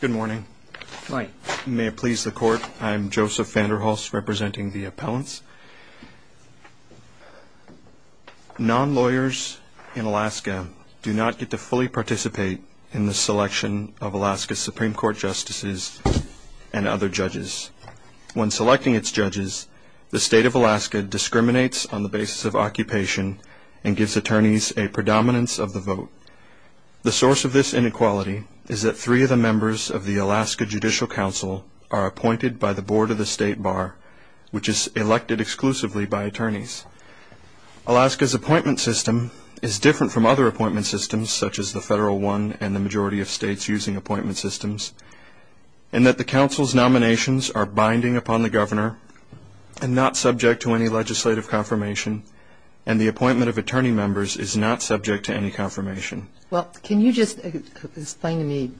Good morning. May it please the court, I'm Joseph Vanderhuls representing the appellants. Non-lawyers in Alaska do not get to fully participate in the selection of Alaska Supreme Court justices and other judges. When selecting its judges, the state of Alaska discriminates on the basis of occupation and gives attorneys a predominance of the vote. The source of this inequality is that three of the members of the Alaska Judicial Council are appointed by the Board of the State Bar, which is elected exclusively by attorneys. Alaska's appointment system is different from other appointment systems such as the Federal One and the majority of states using appointment systems and that the council's nominations are binding upon the governor and not subject to any legislative confirmation and the appointment of attorney members is not subject to any confirmation. Well, can you just explain to me,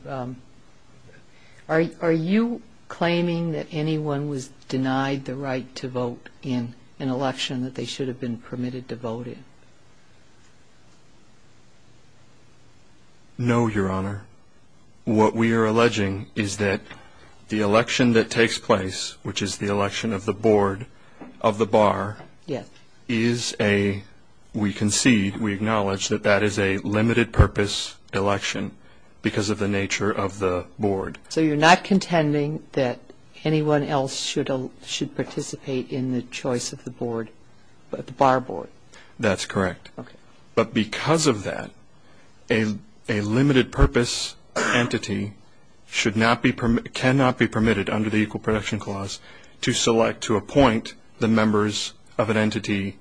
are you claiming that anyone was denied the right to vote in an election that they should have been permitted to vote in? No, Your Honor. What we are alleging is that the election that takes place, which is the election of the Board of the Bar, yes, is a, we concede, we acknowledge that that is a limited purpose election because of the nature of the board. So you're not contending that anyone else should participate in the choice of the board, the bar board? That's correct. Okay. But because of that, a limited purpose entity should not be permitted, cannot be permitted under the Equal Protection Clause to select, to appoint the members of an entity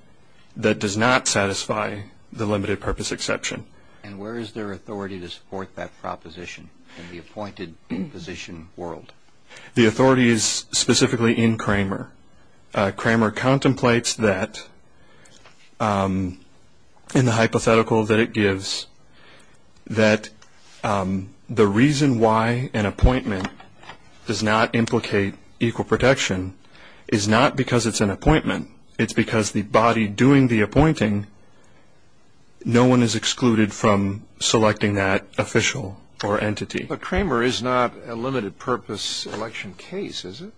that does not satisfy the limited purpose exception. And where is their authority to support that proposition in the appointed position world? The authority is specifically in Cramer. Cramer contemplates that, in the hypothetical that it gives, that the reason why an appointment does not satisfy the limited purpose exception is because the body doing the appointing, no one is excluded from selecting that official or entity. But Cramer is not a limited purpose election case, is it?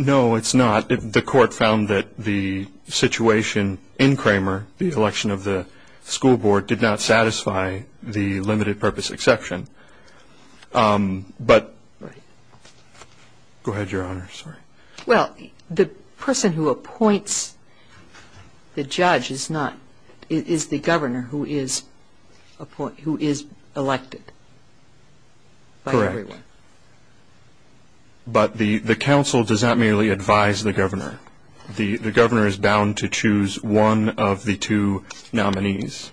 No, it's not. The court found that the situation in Cramer, the election of the school board, did not satisfy the limited purpose exception. But, go ahead, Your Honor. Sorry. Well, the person who appoints the judge is not, is the governor who is elected. Correct. But the council does not merely advise the governor. The governor is bound to choose one of the two nominees.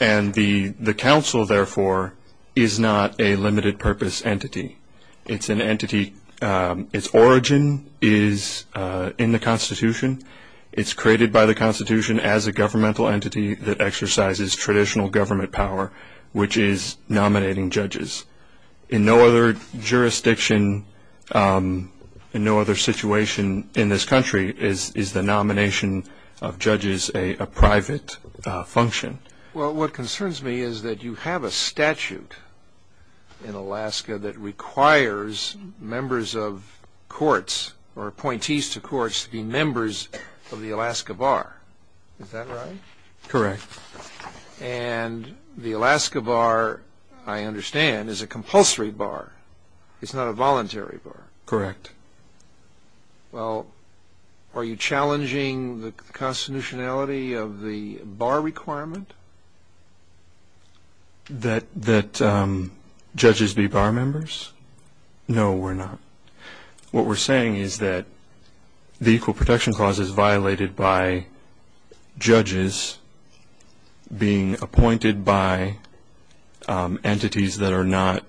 And the council, therefore, is not a limited purpose entity. It's an entity, its origin is in the Constitution. It's created by the Constitution as a governmental entity that exercises traditional government power, which is nominating judges. In no other jurisdiction, in no other situation in this country is the nomination of judges a private function. Well, what concerns me is that you have a statute in Alaska that requires members of courts or appointees to courts to be members of the Alaska Bar. Is that right? Correct. And the Alaska Bar, I understand, is a compulsory bar. It's not a voluntary bar. Correct. Well, are you challenging the bar requirement? That judges be bar members? No, we're not. What we're saying is that the Equal Protection Clause is violated by judges being appointed by entities that are not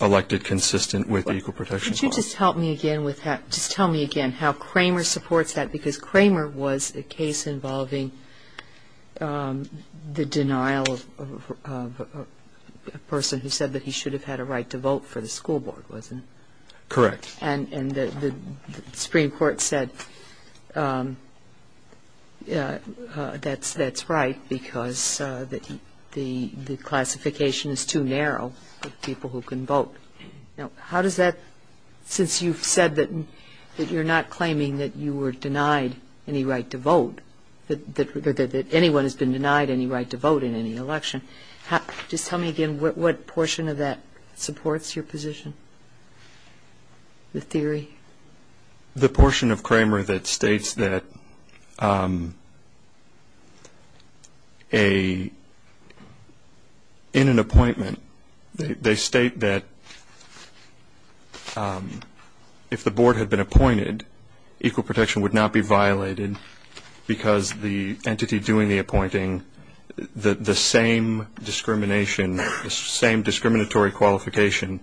elected consistent with the Equal Protection Clause. Could you just help me again with that? Just tell me again how Kramer supports that, because I'm not familiar with the denial of a person who said that he should have had a right to vote for the school board, wasn't he? Correct. And the Supreme Court said that's right because the classification is too narrow of people who can vote. Now, how does that, since you've said that you're not claiming that you were denied any right to vote in any election, just tell me again what portion of that supports your position, the theory? The portion of Kramer that states that in an appointment, they state that if the board had been appointed, equal protection would not be violated because the entity doing the appointing, the same discrimination, the same discriminatory qualification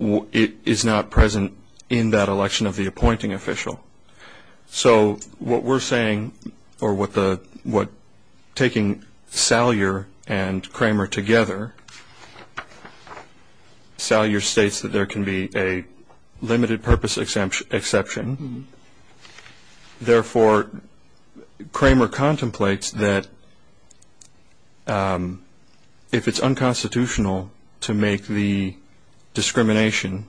is not present in that election of the appointing official. So what we're saying or what taking Salyer and Kramer together, Salyer states that there can be a limited purpose exception, therefore, Kramer contemplates that if it's unconstitutional to make the discrimination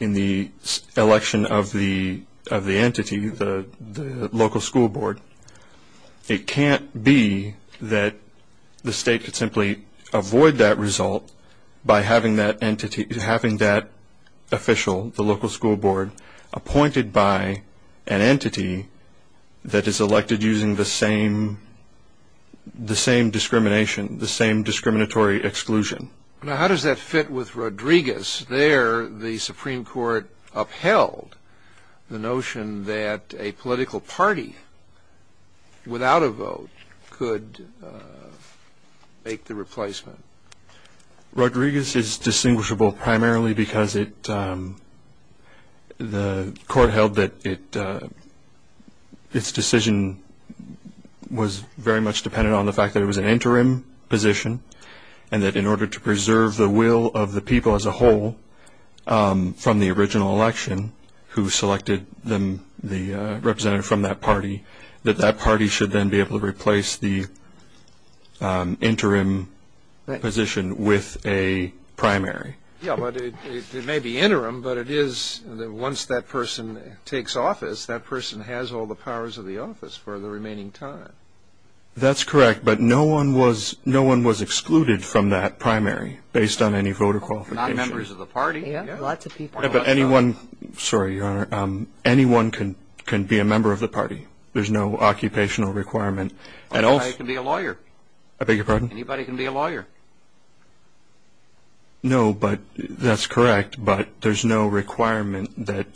in the election of the entity, the local school board, it can't be that the state could simply avoid that result by having that entity, having that official, the local school board, appointed by an entity that is elected using the same discrimination, the same discriminatory exclusion. Now, how does that fit with Rodriguez? There, the Supreme Court upheld the notion that a political party without a vote could make the replacement. Rodriguez is distinguishable primarily because the court held that its decision was very much dependent on the fact that it was an interim position and that in order to preserve the will of the people as the representative from that party, that that party should then be able to replace the interim position with a primary. Yeah, but it may be interim, but it is that once that person takes office, that person has all the powers of the office for the remaining time. That's correct, but no one was excluded from that primary based on any voter qualification. Anyone can be a member of the party. There's no occupational requirement. Anybody can be a lawyer. No, but that's correct, but there's no requirement that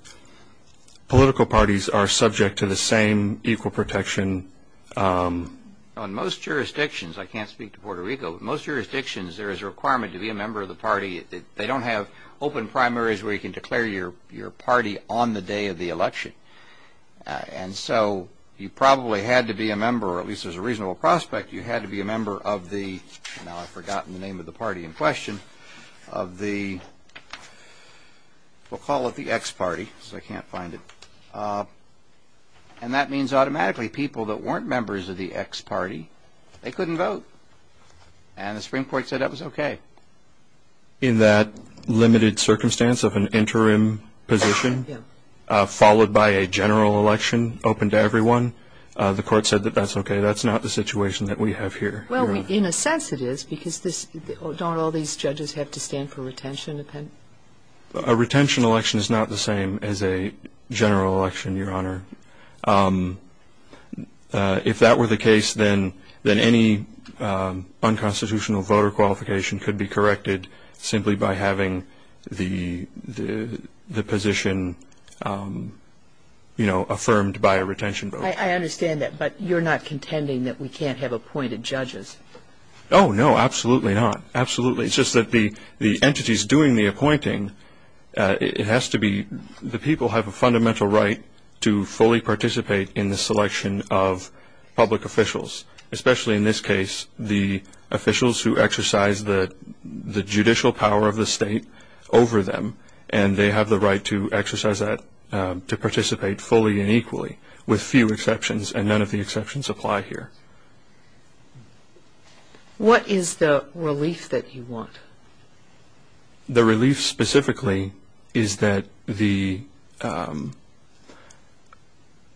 political parties are subject to the same equal protection. On most jurisdictions, I can't speak to Puerto Rico, most jurisdictions there is a requirement to be a member of the party. They don't have open primaries where you can declare your party on the day of the election, and so you probably had to be a member, or at least there's a reasonable prospect, you had to be a member of the, now I've forgotten the name of the party in question, of the, we'll call it the ex-party, because I can't find it, and that means automatically people that weren't members of the ex-party, they couldn't vote, and the Supreme Court said that was okay. In that limited circumstance of an interim position, followed by a general election open to everyone, the court said that that's okay, that's not the situation that we have here. Well, in a sense it is, because this, don't all these judges have to stand for retention? A retention election is not the same as a general election, Your Honor. If that were the case, then any unconstitutional voter qualification could be corrected simply by having the position, you know, affirmed by a retention vote. I understand that, but you're not contending that we can't have appointed judges? Oh, no, absolutely not. Absolutely. It's just that the entities doing the appointing, it has to be, the people have a fundamental right to fully participate in the selection of public officials, especially in this case, the officials who exercise the judicial power of the state over them, and they have the right to exercise that, to participate fully and equally, with few exceptions, and none of the exceptions apply here. What is the relief that you want? The relief specifically is that the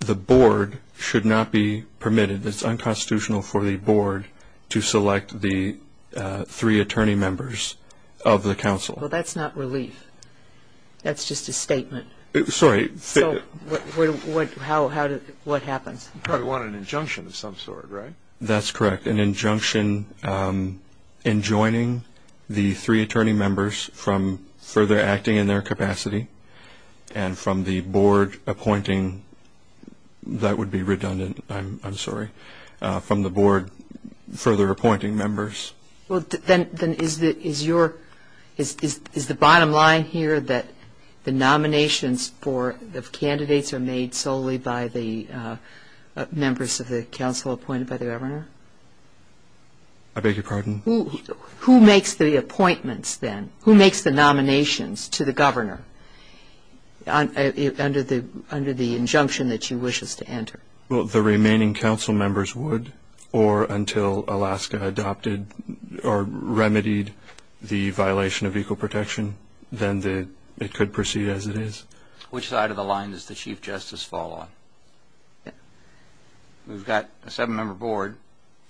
board should not be permitted, it's unconstitutional for the board to select the three attorney members of the council. Well, that's not relief. That's just a statement. Sorry. So, what happens? You probably want an injunction of some sort, right? That's correct. An injunction enjoining the three attorney members from further acting in their capacity, and from the board appointing, that would be redundant, I'm sorry, from the board further appointing members. Well, then, is the bottom line here that the nominations of candidates are made solely by the members of the governor? I beg your pardon? Who makes the appointments, then? Who makes the nominations to the governor, under the injunction that you wish us to enter? Well, the remaining council members would, or until Alaska adopted, or remedied, the violation of equal protection, then it could proceed as it is. Which side of the line does the Chief Justice fall on? We've got a seven-member board,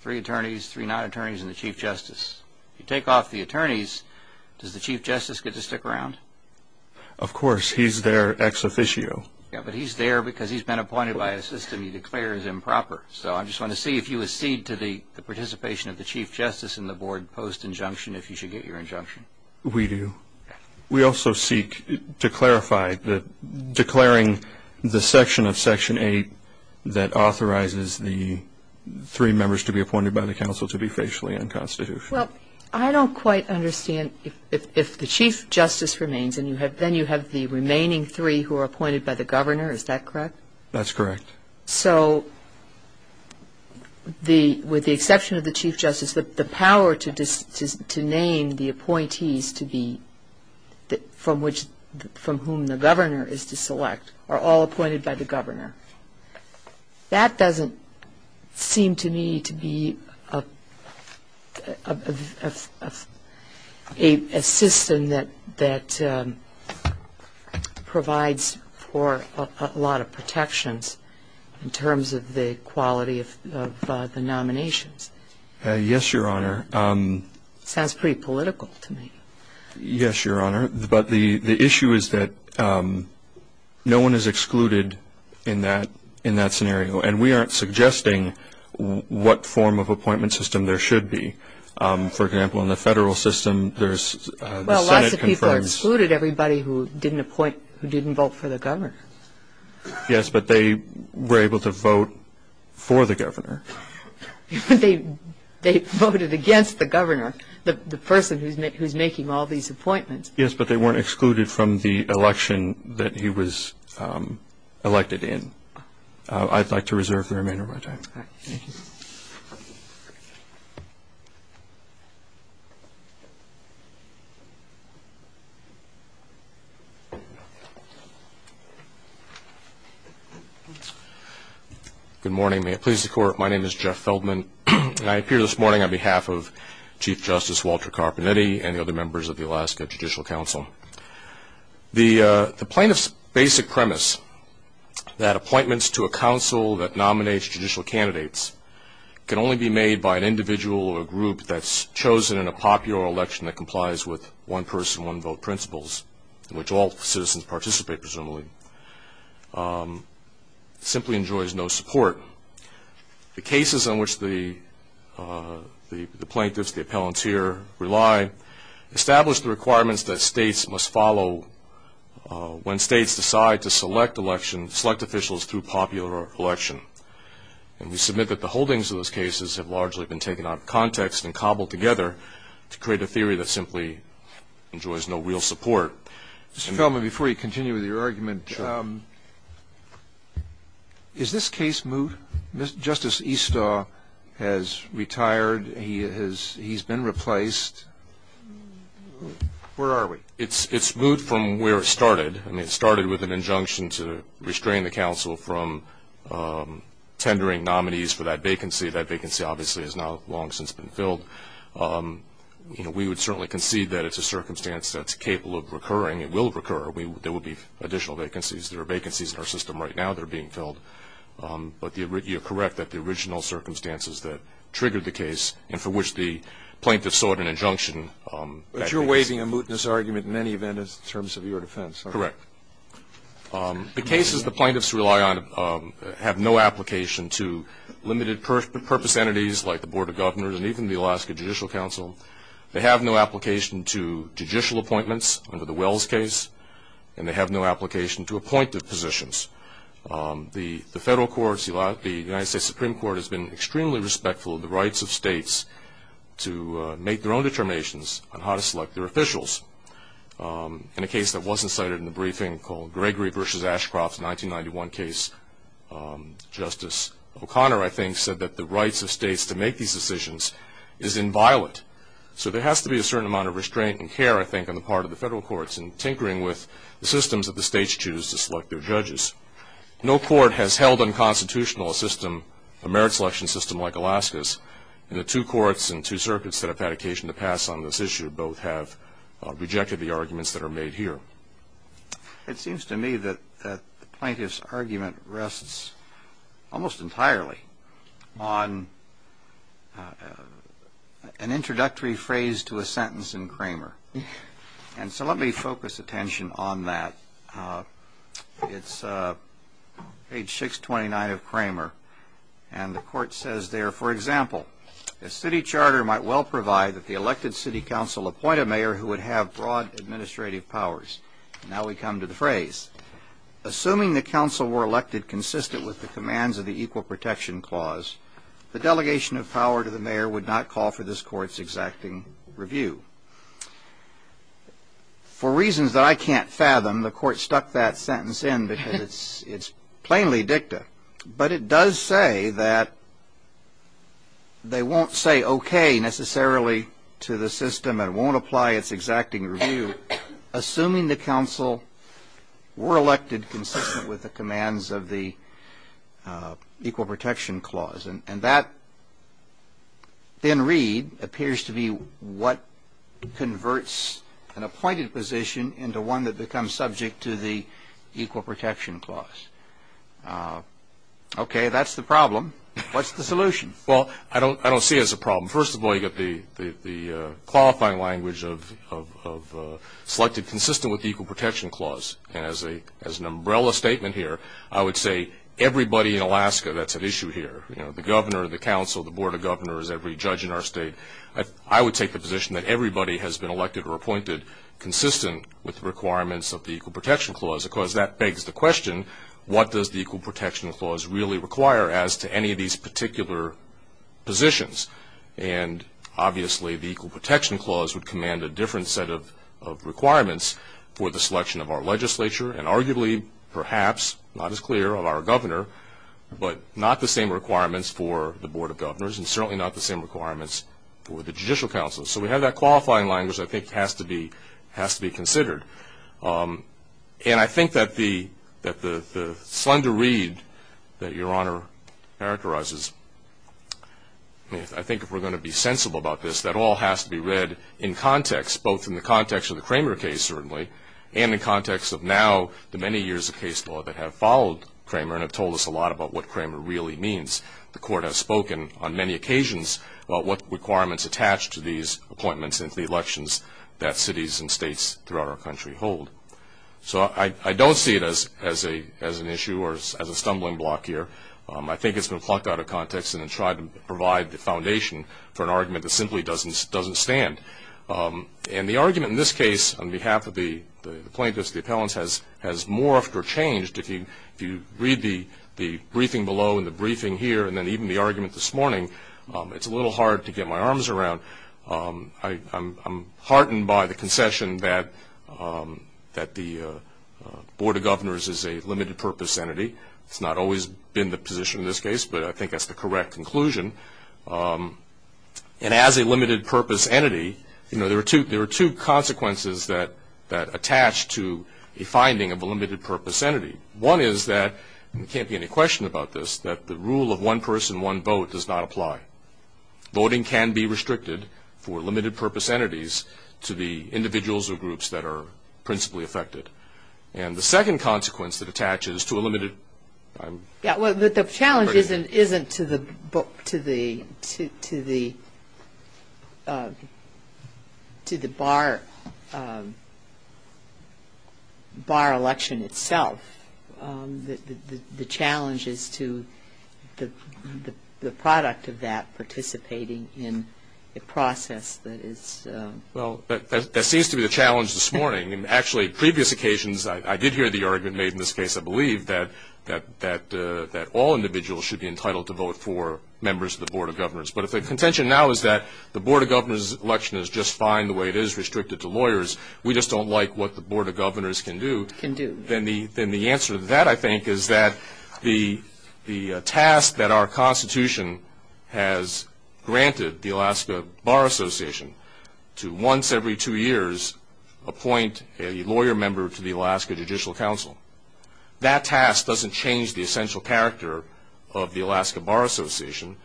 three attorneys, three non-attorneys, and the Chief Justice. If you take off the attorneys, does the Chief Justice get to stick around? Of course. He's their ex-officio. Yeah, but he's there because he's been appointed by a system he declares improper. So, I just want to see if you accede to the participation of the Chief Justice and the board post-injunction, if you should get your injunction. We do. We also seek to clarify that declaring the section of Section 8 that authorizes the three members to be appointed by the council to be facially unconstitutional. Well, I don't quite understand if the Chief Justice remains, and then you have the remaining three who are appointed by the governor, is that correct? That's correct. So, with the exception of the Chief Justice, the power to name the appointees from whom the governor is to select are all appointed by the governor. That doesn't seem to me to be a system that provides for a lot of protections in terms of the quality of the nominations. Yes, Your Honor. Sounds pretty political to me. Yes, Your Honor. But the issue is that no one is excluded in that scenario, and we aren't suggesting what form of appointment system there should be. For example, in the federal system, there's the Senate confirms. Well, lots of people are excluded, everybody who didn't appoint, who didn't vote for the governor. They voted against the governor, the person who's making all these appointments. Yes, but they weren't excluded from the election that he was elected in. I'd like to reserve the remainder of my time. Thank you. Thank you. Good morning. May it please the Court, my name is Jeff Feldman, and I appear this morning on behalf of Chief Justice Walter Carpenetti and the other members of the Alaska Judicial Council. The plaintiff's basic premise, that appointments to a council that nominates judicial candidates can only be made by an individual or a group that's chosen in a popular election that complies with one-person, one-vote principles, in which all citizens participate, presumably, simply enjoys no support. The cases in which the plaintiffs, the appellants here, rely, establish the requirements that states must follow when states decide to select election, select officials through popular election. And we submit that the holdings of those cases have largely been taken out of context and cobbled together to create a theory that simply enjoys no real support. Mr. Feldman, before you continue with your argument, is this case moot? Justice Estaw has retired. He's been replaced. Where are we? It's moot from where it started. I mean, it started with an injunction to restrain the council from tendering nominees for that vacancy. That vacancy, obviously, has not long since been filled. We would certainly concede that it's a circumstance that's capable of recurring. It will recur. There will be additional vacancies. There are vacancies in our system right now that are being filled. But you're correct that the original circumstances that triggered the case and for which the plaintiffs sought an injunction. But you're waiving a mootness argument in any event in terms of your defense. Correct. The cases the plaintiffs rely on have no application to limited purpose entities like the Board of Governors and even the Alaska Judicial Council. They have no application to judicial appointments under the Wells case, and they have no application to appointive positions. The federal courts, the United States Supreme Court has been extremely respectful of the rights of states to make their own determinations on how to select their officials. In a case that wasn't cited in the briefing called Gregory v. Ashcroft's 1991 case, Justice O'Connor, I think, said that the rights of states to make these decisions is inviolate. So there has to be a certain amount of restraint and care, I think, on the part of the federal courts in tinkering with the systems that the states choose to select their judges. No court has held unconstitutional a system, a merit selection system like Alaska's, and the two courts and two circuits that have had occasion to pass on this issue both have rejected the arguments that are made here. It seems to me that the plaintiff's argument rests almost entirely on an introductory phrase to a sentence in Cramer. And so let me focus attention on that. It's page 629 of Cramer, and the court says there, for example, a city charter might well provide that the elected city council appoint a mayor who would have broad administrative powers. Now we come to the phrase. Assuming the council were elected consistent with the commands of the Equal Protection Clause, the delegation of power to the mayor would not call for this court's exacting review. For reasons that I can't fathom, the court stuck that sentence in because it's plainly dicta. But it does say that they won't say okay necessarily to the system and won't apply its exacting review assuming the council were elected consistent with the commands of the Equal Protection Clause. And that, in read, appears to be what converts an appointed position into one that becomes subject to the Equal Protection Clause. Okay, that's the problem. What's the solution? Well, I don't see it as a problem. First of all, you've got the qualifying language of selected consistent with the Equal Protection Clause. And as an umbrella statement here, I would say everybody in Alaska, that's an issue here. You know, the governor, the council, the board of governors, every judge in our state, I would take the position that everybody has been elected or appointed consistent with the requirements of the Equal Protection Clause because that begs the question what does the Equal Protection Clause really require as to any of these particular positions. And obviously the Equal Protection Clause would command a different set of requirements for the selection of our legislature and arguably perhaps not as clear of our governor but not the same requirements for the board of governors and certainly not the same requirements for the judicial council. So we have that qualifying language I think has to be considered. And I think that the slender read that Your Honor characterizes, I think if we're going to be sensible about this, that all has to be read in context, both in the context of the Cramer case certainly and in context of now the many years of case law that have followed Cramer and have told us a lot about what Cramer really means. The court has spoken on many occasions about what requirements attach to these appointments and to the elections that cities and states throughout our country hold. So I don't see it as an issue or as a stumbling block here. I think it's been plucked out of context and tried to provide the foundation for an argument that simply doesn't stand. And the argument in this case on behalf of the plaintiffs, the appellants, has morphed or changed. If you read the briefing below and the briefing here and then even the argument this morning, it's a little hard to get my arms around. I'm heartened by the concession that the Board of Governors is a limited-purpose entity. It's not always been the position in this case, but I think that's the correct conclusion. And as a limited-purpose entity, you know, there are two consequences that attach to a finding of a limited-purpose entity. One is that, and there can't be any question about this, that the rule of one person, one vote does not apply. Voting can be restricted for limited-purpose entities to the individuals or groups that are principally affected. And the second consequence that attaches to a limited- Yeah, well, the challenge isn't to the bar election itself. The challenge is to the product of that participating in the process that is- Well, that seems to be the challenge this morning. And actually, previous occasions, I did hear the argument made in this case, I believe, that all individuals should be entitled to vote for members of the Board of Governors. But if the contention now is that the Board of Governors election is just fine the way it is, restricted to lawyers, we just don't like what the Board of Governors can do- Can do. Then the answer to that, I think, is that the task that our Constitution has granted the Alaska Bar Association to once every two years appoint a lawyer member to the Alaska Judicial Council, that task doesn't change the essential character of the Alaska Bar Association.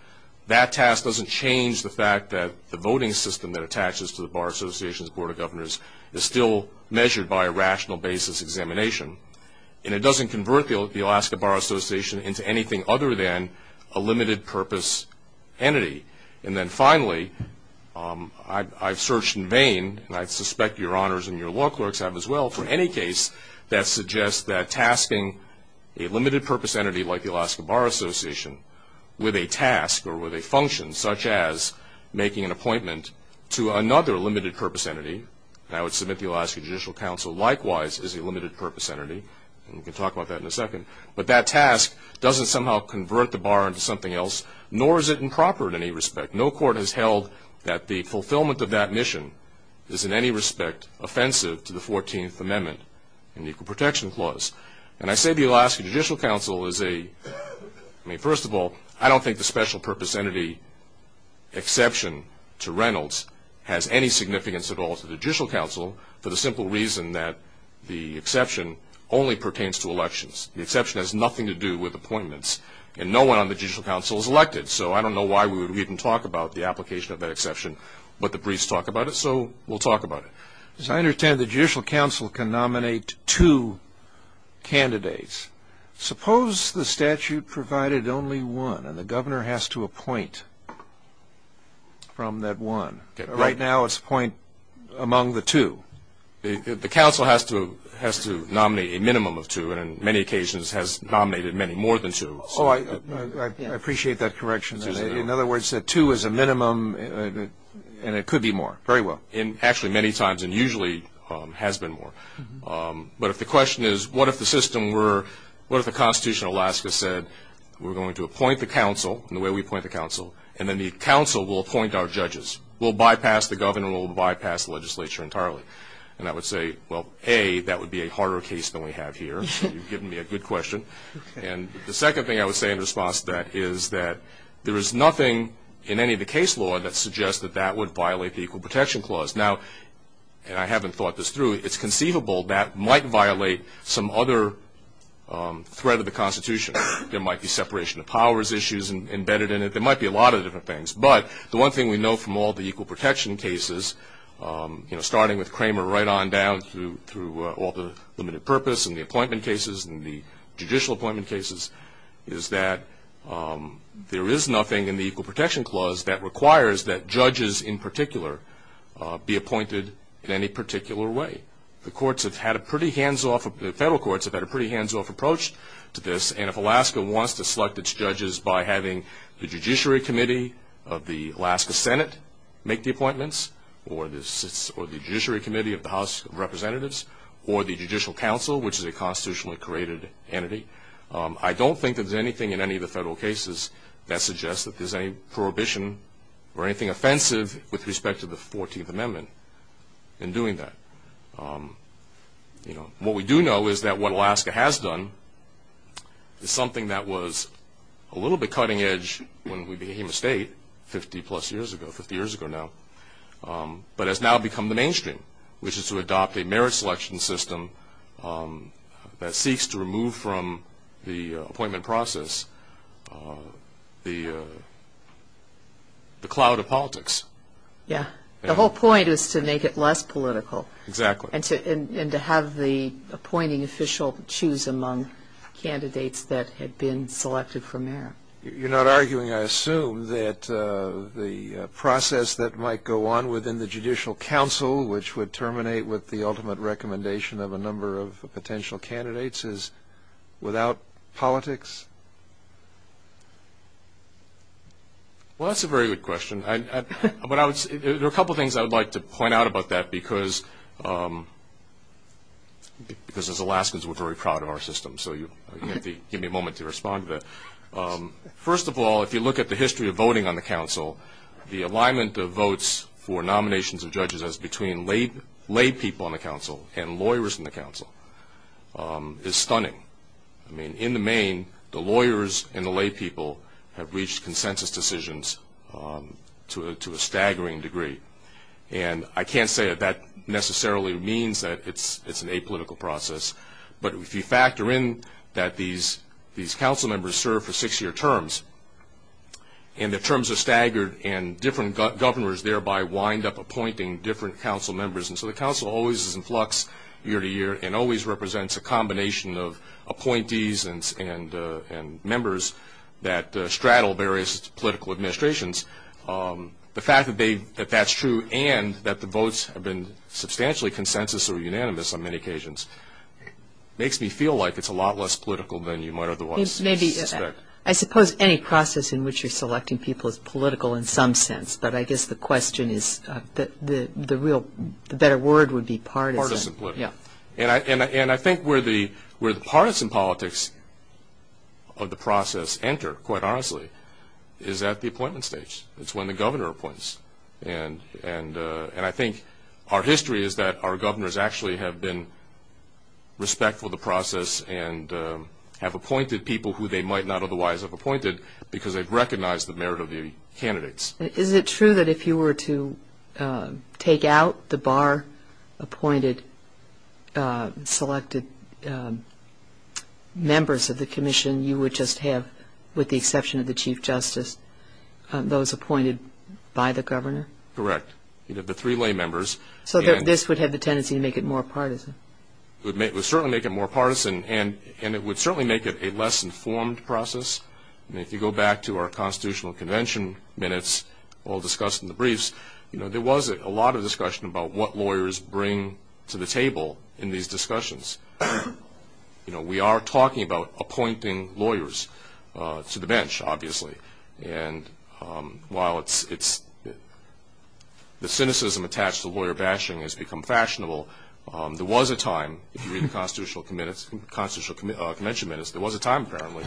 That task doesn't change the fact that the voting system that attaches to the Bar Association's Board of Governors is still measured by a rational basis examination. And it doesn't convert the Alaska Bar Association into anything other than a limited-purpose entity. And then finally, I've searched in vain, and I suspect your honors and your law clerks have as well, for any case that suggests that tasking a limited-purpose entity like the Alaska Bar Association with a task or with a function such as making an appointment to another limited-purpose entity, and I would submit the Alaska Judicial Council likewise is a limited-purpose entity, and we can talk about that in a second, but that task doesn't somehow convert the bar into something else, nor is it improper in any respect. No court has held that the fulfillment of that mission is in any respect offensive to the 14th Amendment and Equal Protection Clause. And I say the Alaska Judicial Council is a- I mean, first of all, I don't think the special-purpose entity exception to Reynolds has any significance at all to the Judicial Council for the simple reason that the exception only pertains to elections. The exception has nothing to do with appointments, and no one on the Judicial Council is elected, so I don't know why we would even talk about the application of that exception, but the briefs talk about it, so we'll talk about it. As I understand it, the Judicial Council can nominate two candidates. Suppose the statute provided only one, and the governor has to appoint from that one. Right now it's appoint among the two. The council has to nominate a minimum of two, and on many occasions has nominated many more than two. Oh, I appreciate that correction. In other words, two is a minimum, and it could be more. Very well. Actually many times, and usually has been more. But if the question is, what if the system were- what if the Constitution of Alaska said, we're going to appoint the council in the way we appoint the council, and then the council will appoint our judges. We'll bypass the governor. We'll bypass the legislature entirely. And I would say, well, A, that would be a harder case than we have here. You've given me a good question. And the second thing I would say in response to that is that there is nothing in any of the case law that suggests that that would violate the Equal Protection Clause. Now, and I haven't thought this through, it's conceivable that might violate some other threat of the Constitution. There might be separation of powers issues embedded in it. There might be a lot of different things. But the one thing we know from all the Equal Protection cases, starting with Kramer right on down through all the limited purpose and the appointment cases and the judicial appointment cases, is that there is nothing in the Equal Protection Clause that requires that judges in particular be appointed in any particular way. The courts have had a pretty hands-off- the federal courts have had a pretty hands-off approach to this. And if Alaska wants to select its judges by having the Judiciary Committee of the Alaska Senate make the appointments or the Judiciary Committee of the House of Representatives or the Judicial Council, which is a constitutionally created entity, I don't think there's anything in any of the federal cases that suggests that there's any prohibition or anything offensive with respect to the 14th Amendment in doing that. What we do know is that what Alaska has done is something that was a little bit cutting edge when we became a state 50-plus years ago, 50 years ago now, but has now become the mainstream, which is to adopt a merit selection system that seeks to remove from the appointment process the cloud of politics. Yeah, the whole point is to make it less political. Exactly. And to have the appointing official choose among candidates that had been selected for merit. You're not arguing, I assume, that the process that might go on within the Judicial Council, which would terminate with the ultimate recommendation of a number of potential candidates, is without politics? Well, that's a very good question. There are a couple of things I would like to point out about that because, as Alaskans, we're very proud of our system, so you'll have to give me a moment to respond to that. First of all, if you look at the history of voting on the Council, the alignment of votes for nominations of judges as between lay people on the Council and lawyers in the Council is stunning. I mean, in the main, the lawyers and the lay people have reached consensus decisions to a staggering degree. And I can't say that that necessarily means that it's an apolitical process, but if you factor in that these Council members serve for six-year terms, and the terms are staggered and different governors thereby wind up appointing different Council members, and so the Council always is in flux year to year and always represents a combination of appointees and members that straddle various political administrations, the fact that that's true and that the votes have been substantially consensus or unanimous on many occasions makes me feel like it's a lot less political than you might otherwise suspect. I suppose any process in which you're selecting people is political in some sense, but I guess the question is the real, the better word would be partisan. Partisan politics. And I think where the partisan politics of the process enter, quite honestly, is at the appointment stage. It's when the governor appoints. And I think our history is that our governors actually have been respectful of the process and have appointed people who they might not otherwise have appointed because they've recognized the merit of the candidates. Is it true that if you were to take out the bar-appointed selected members of the commission, you would just have, with the exception of the chief justice, those appointed by the governor? Correct. You'd have the three lay members. So this would have the tendency to make it more partisan. It would certainly make it more partisan, and it would certainly make it a less informed process. And if you go back to our constitutional convention minutes, all discussed in the briefs, there was a lot of discussion about what lawyers bring to the table in these discussions. We are talking about appointing lawyers to the bench, obviously. And while the cynicism attached to lawyer bashing has become fashionable, there was a time, if you read the constitutional convention minutes, there was a time apparently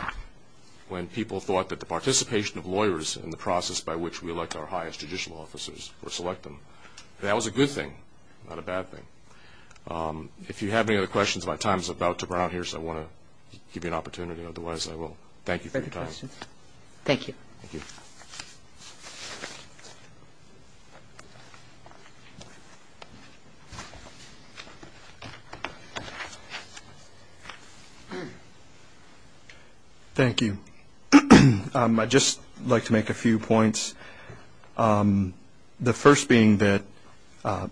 when people thought that the participation of lawyers in the process by which we elect our highest judicial officers or select them, that was a good thing, not a bad thing. If you have any other questions, my time is about to run out here, so I want to give you an opportunity. Otherwise, I will. Thank you. Thank you. Thank you. I'd just like to make a few points. The first being that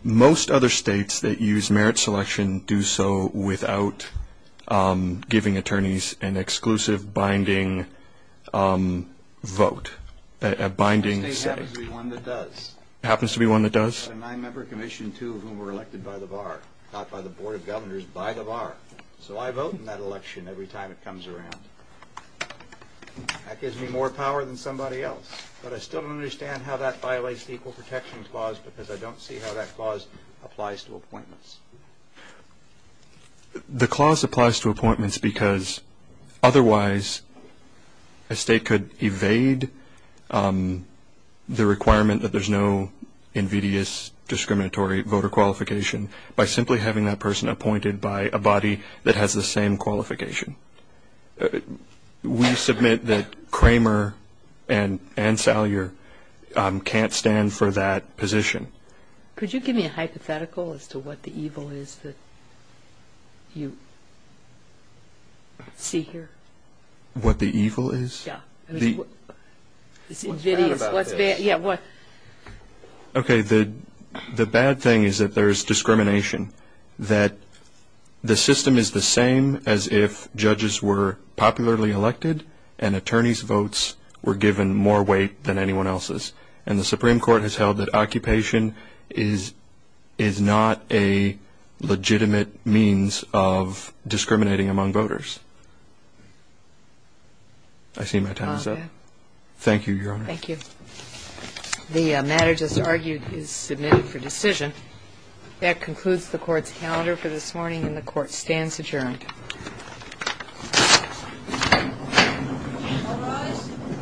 most other states that use merit selection do so without giving attorneys an exclusive binding vote, a binding say. This happens to be one that does. It happens to be one that does? I have a nine-member commission, two of whom were elected by the bar, not by the Board of Governors, by the bar. So I vote in that election every time it comes around. That gives me more power than somebody else. But I still don't understand how that violates the Equal Protection Clause because I don't see how that clause applies to appointments. The clause applies to appointments because otherwise a state could evade the requirement that there's no invidious discriminatory voter qualification by simply having that person appointed by a body that has the same qualification. We submit that Kramer and Salyer can't stand for that position. Could you give me a hypothetical as to what the evil is that you see here? What the evil is? Yeah. What's bad about this? Okay. The bad thing is that there's discrimination, that the system is the same as if judges were popularly elected and attorneys' votes were given more weight than anyone else's. And the Supreme Court has held that occupation is not a legitimate means of discriminating among voters. I see my time is up. Okay. Thank you, Your Honor. Thank you. The matter just argued is submitted for decision. That concludes the Court's calendar for this morning, and the Court stands adjourned.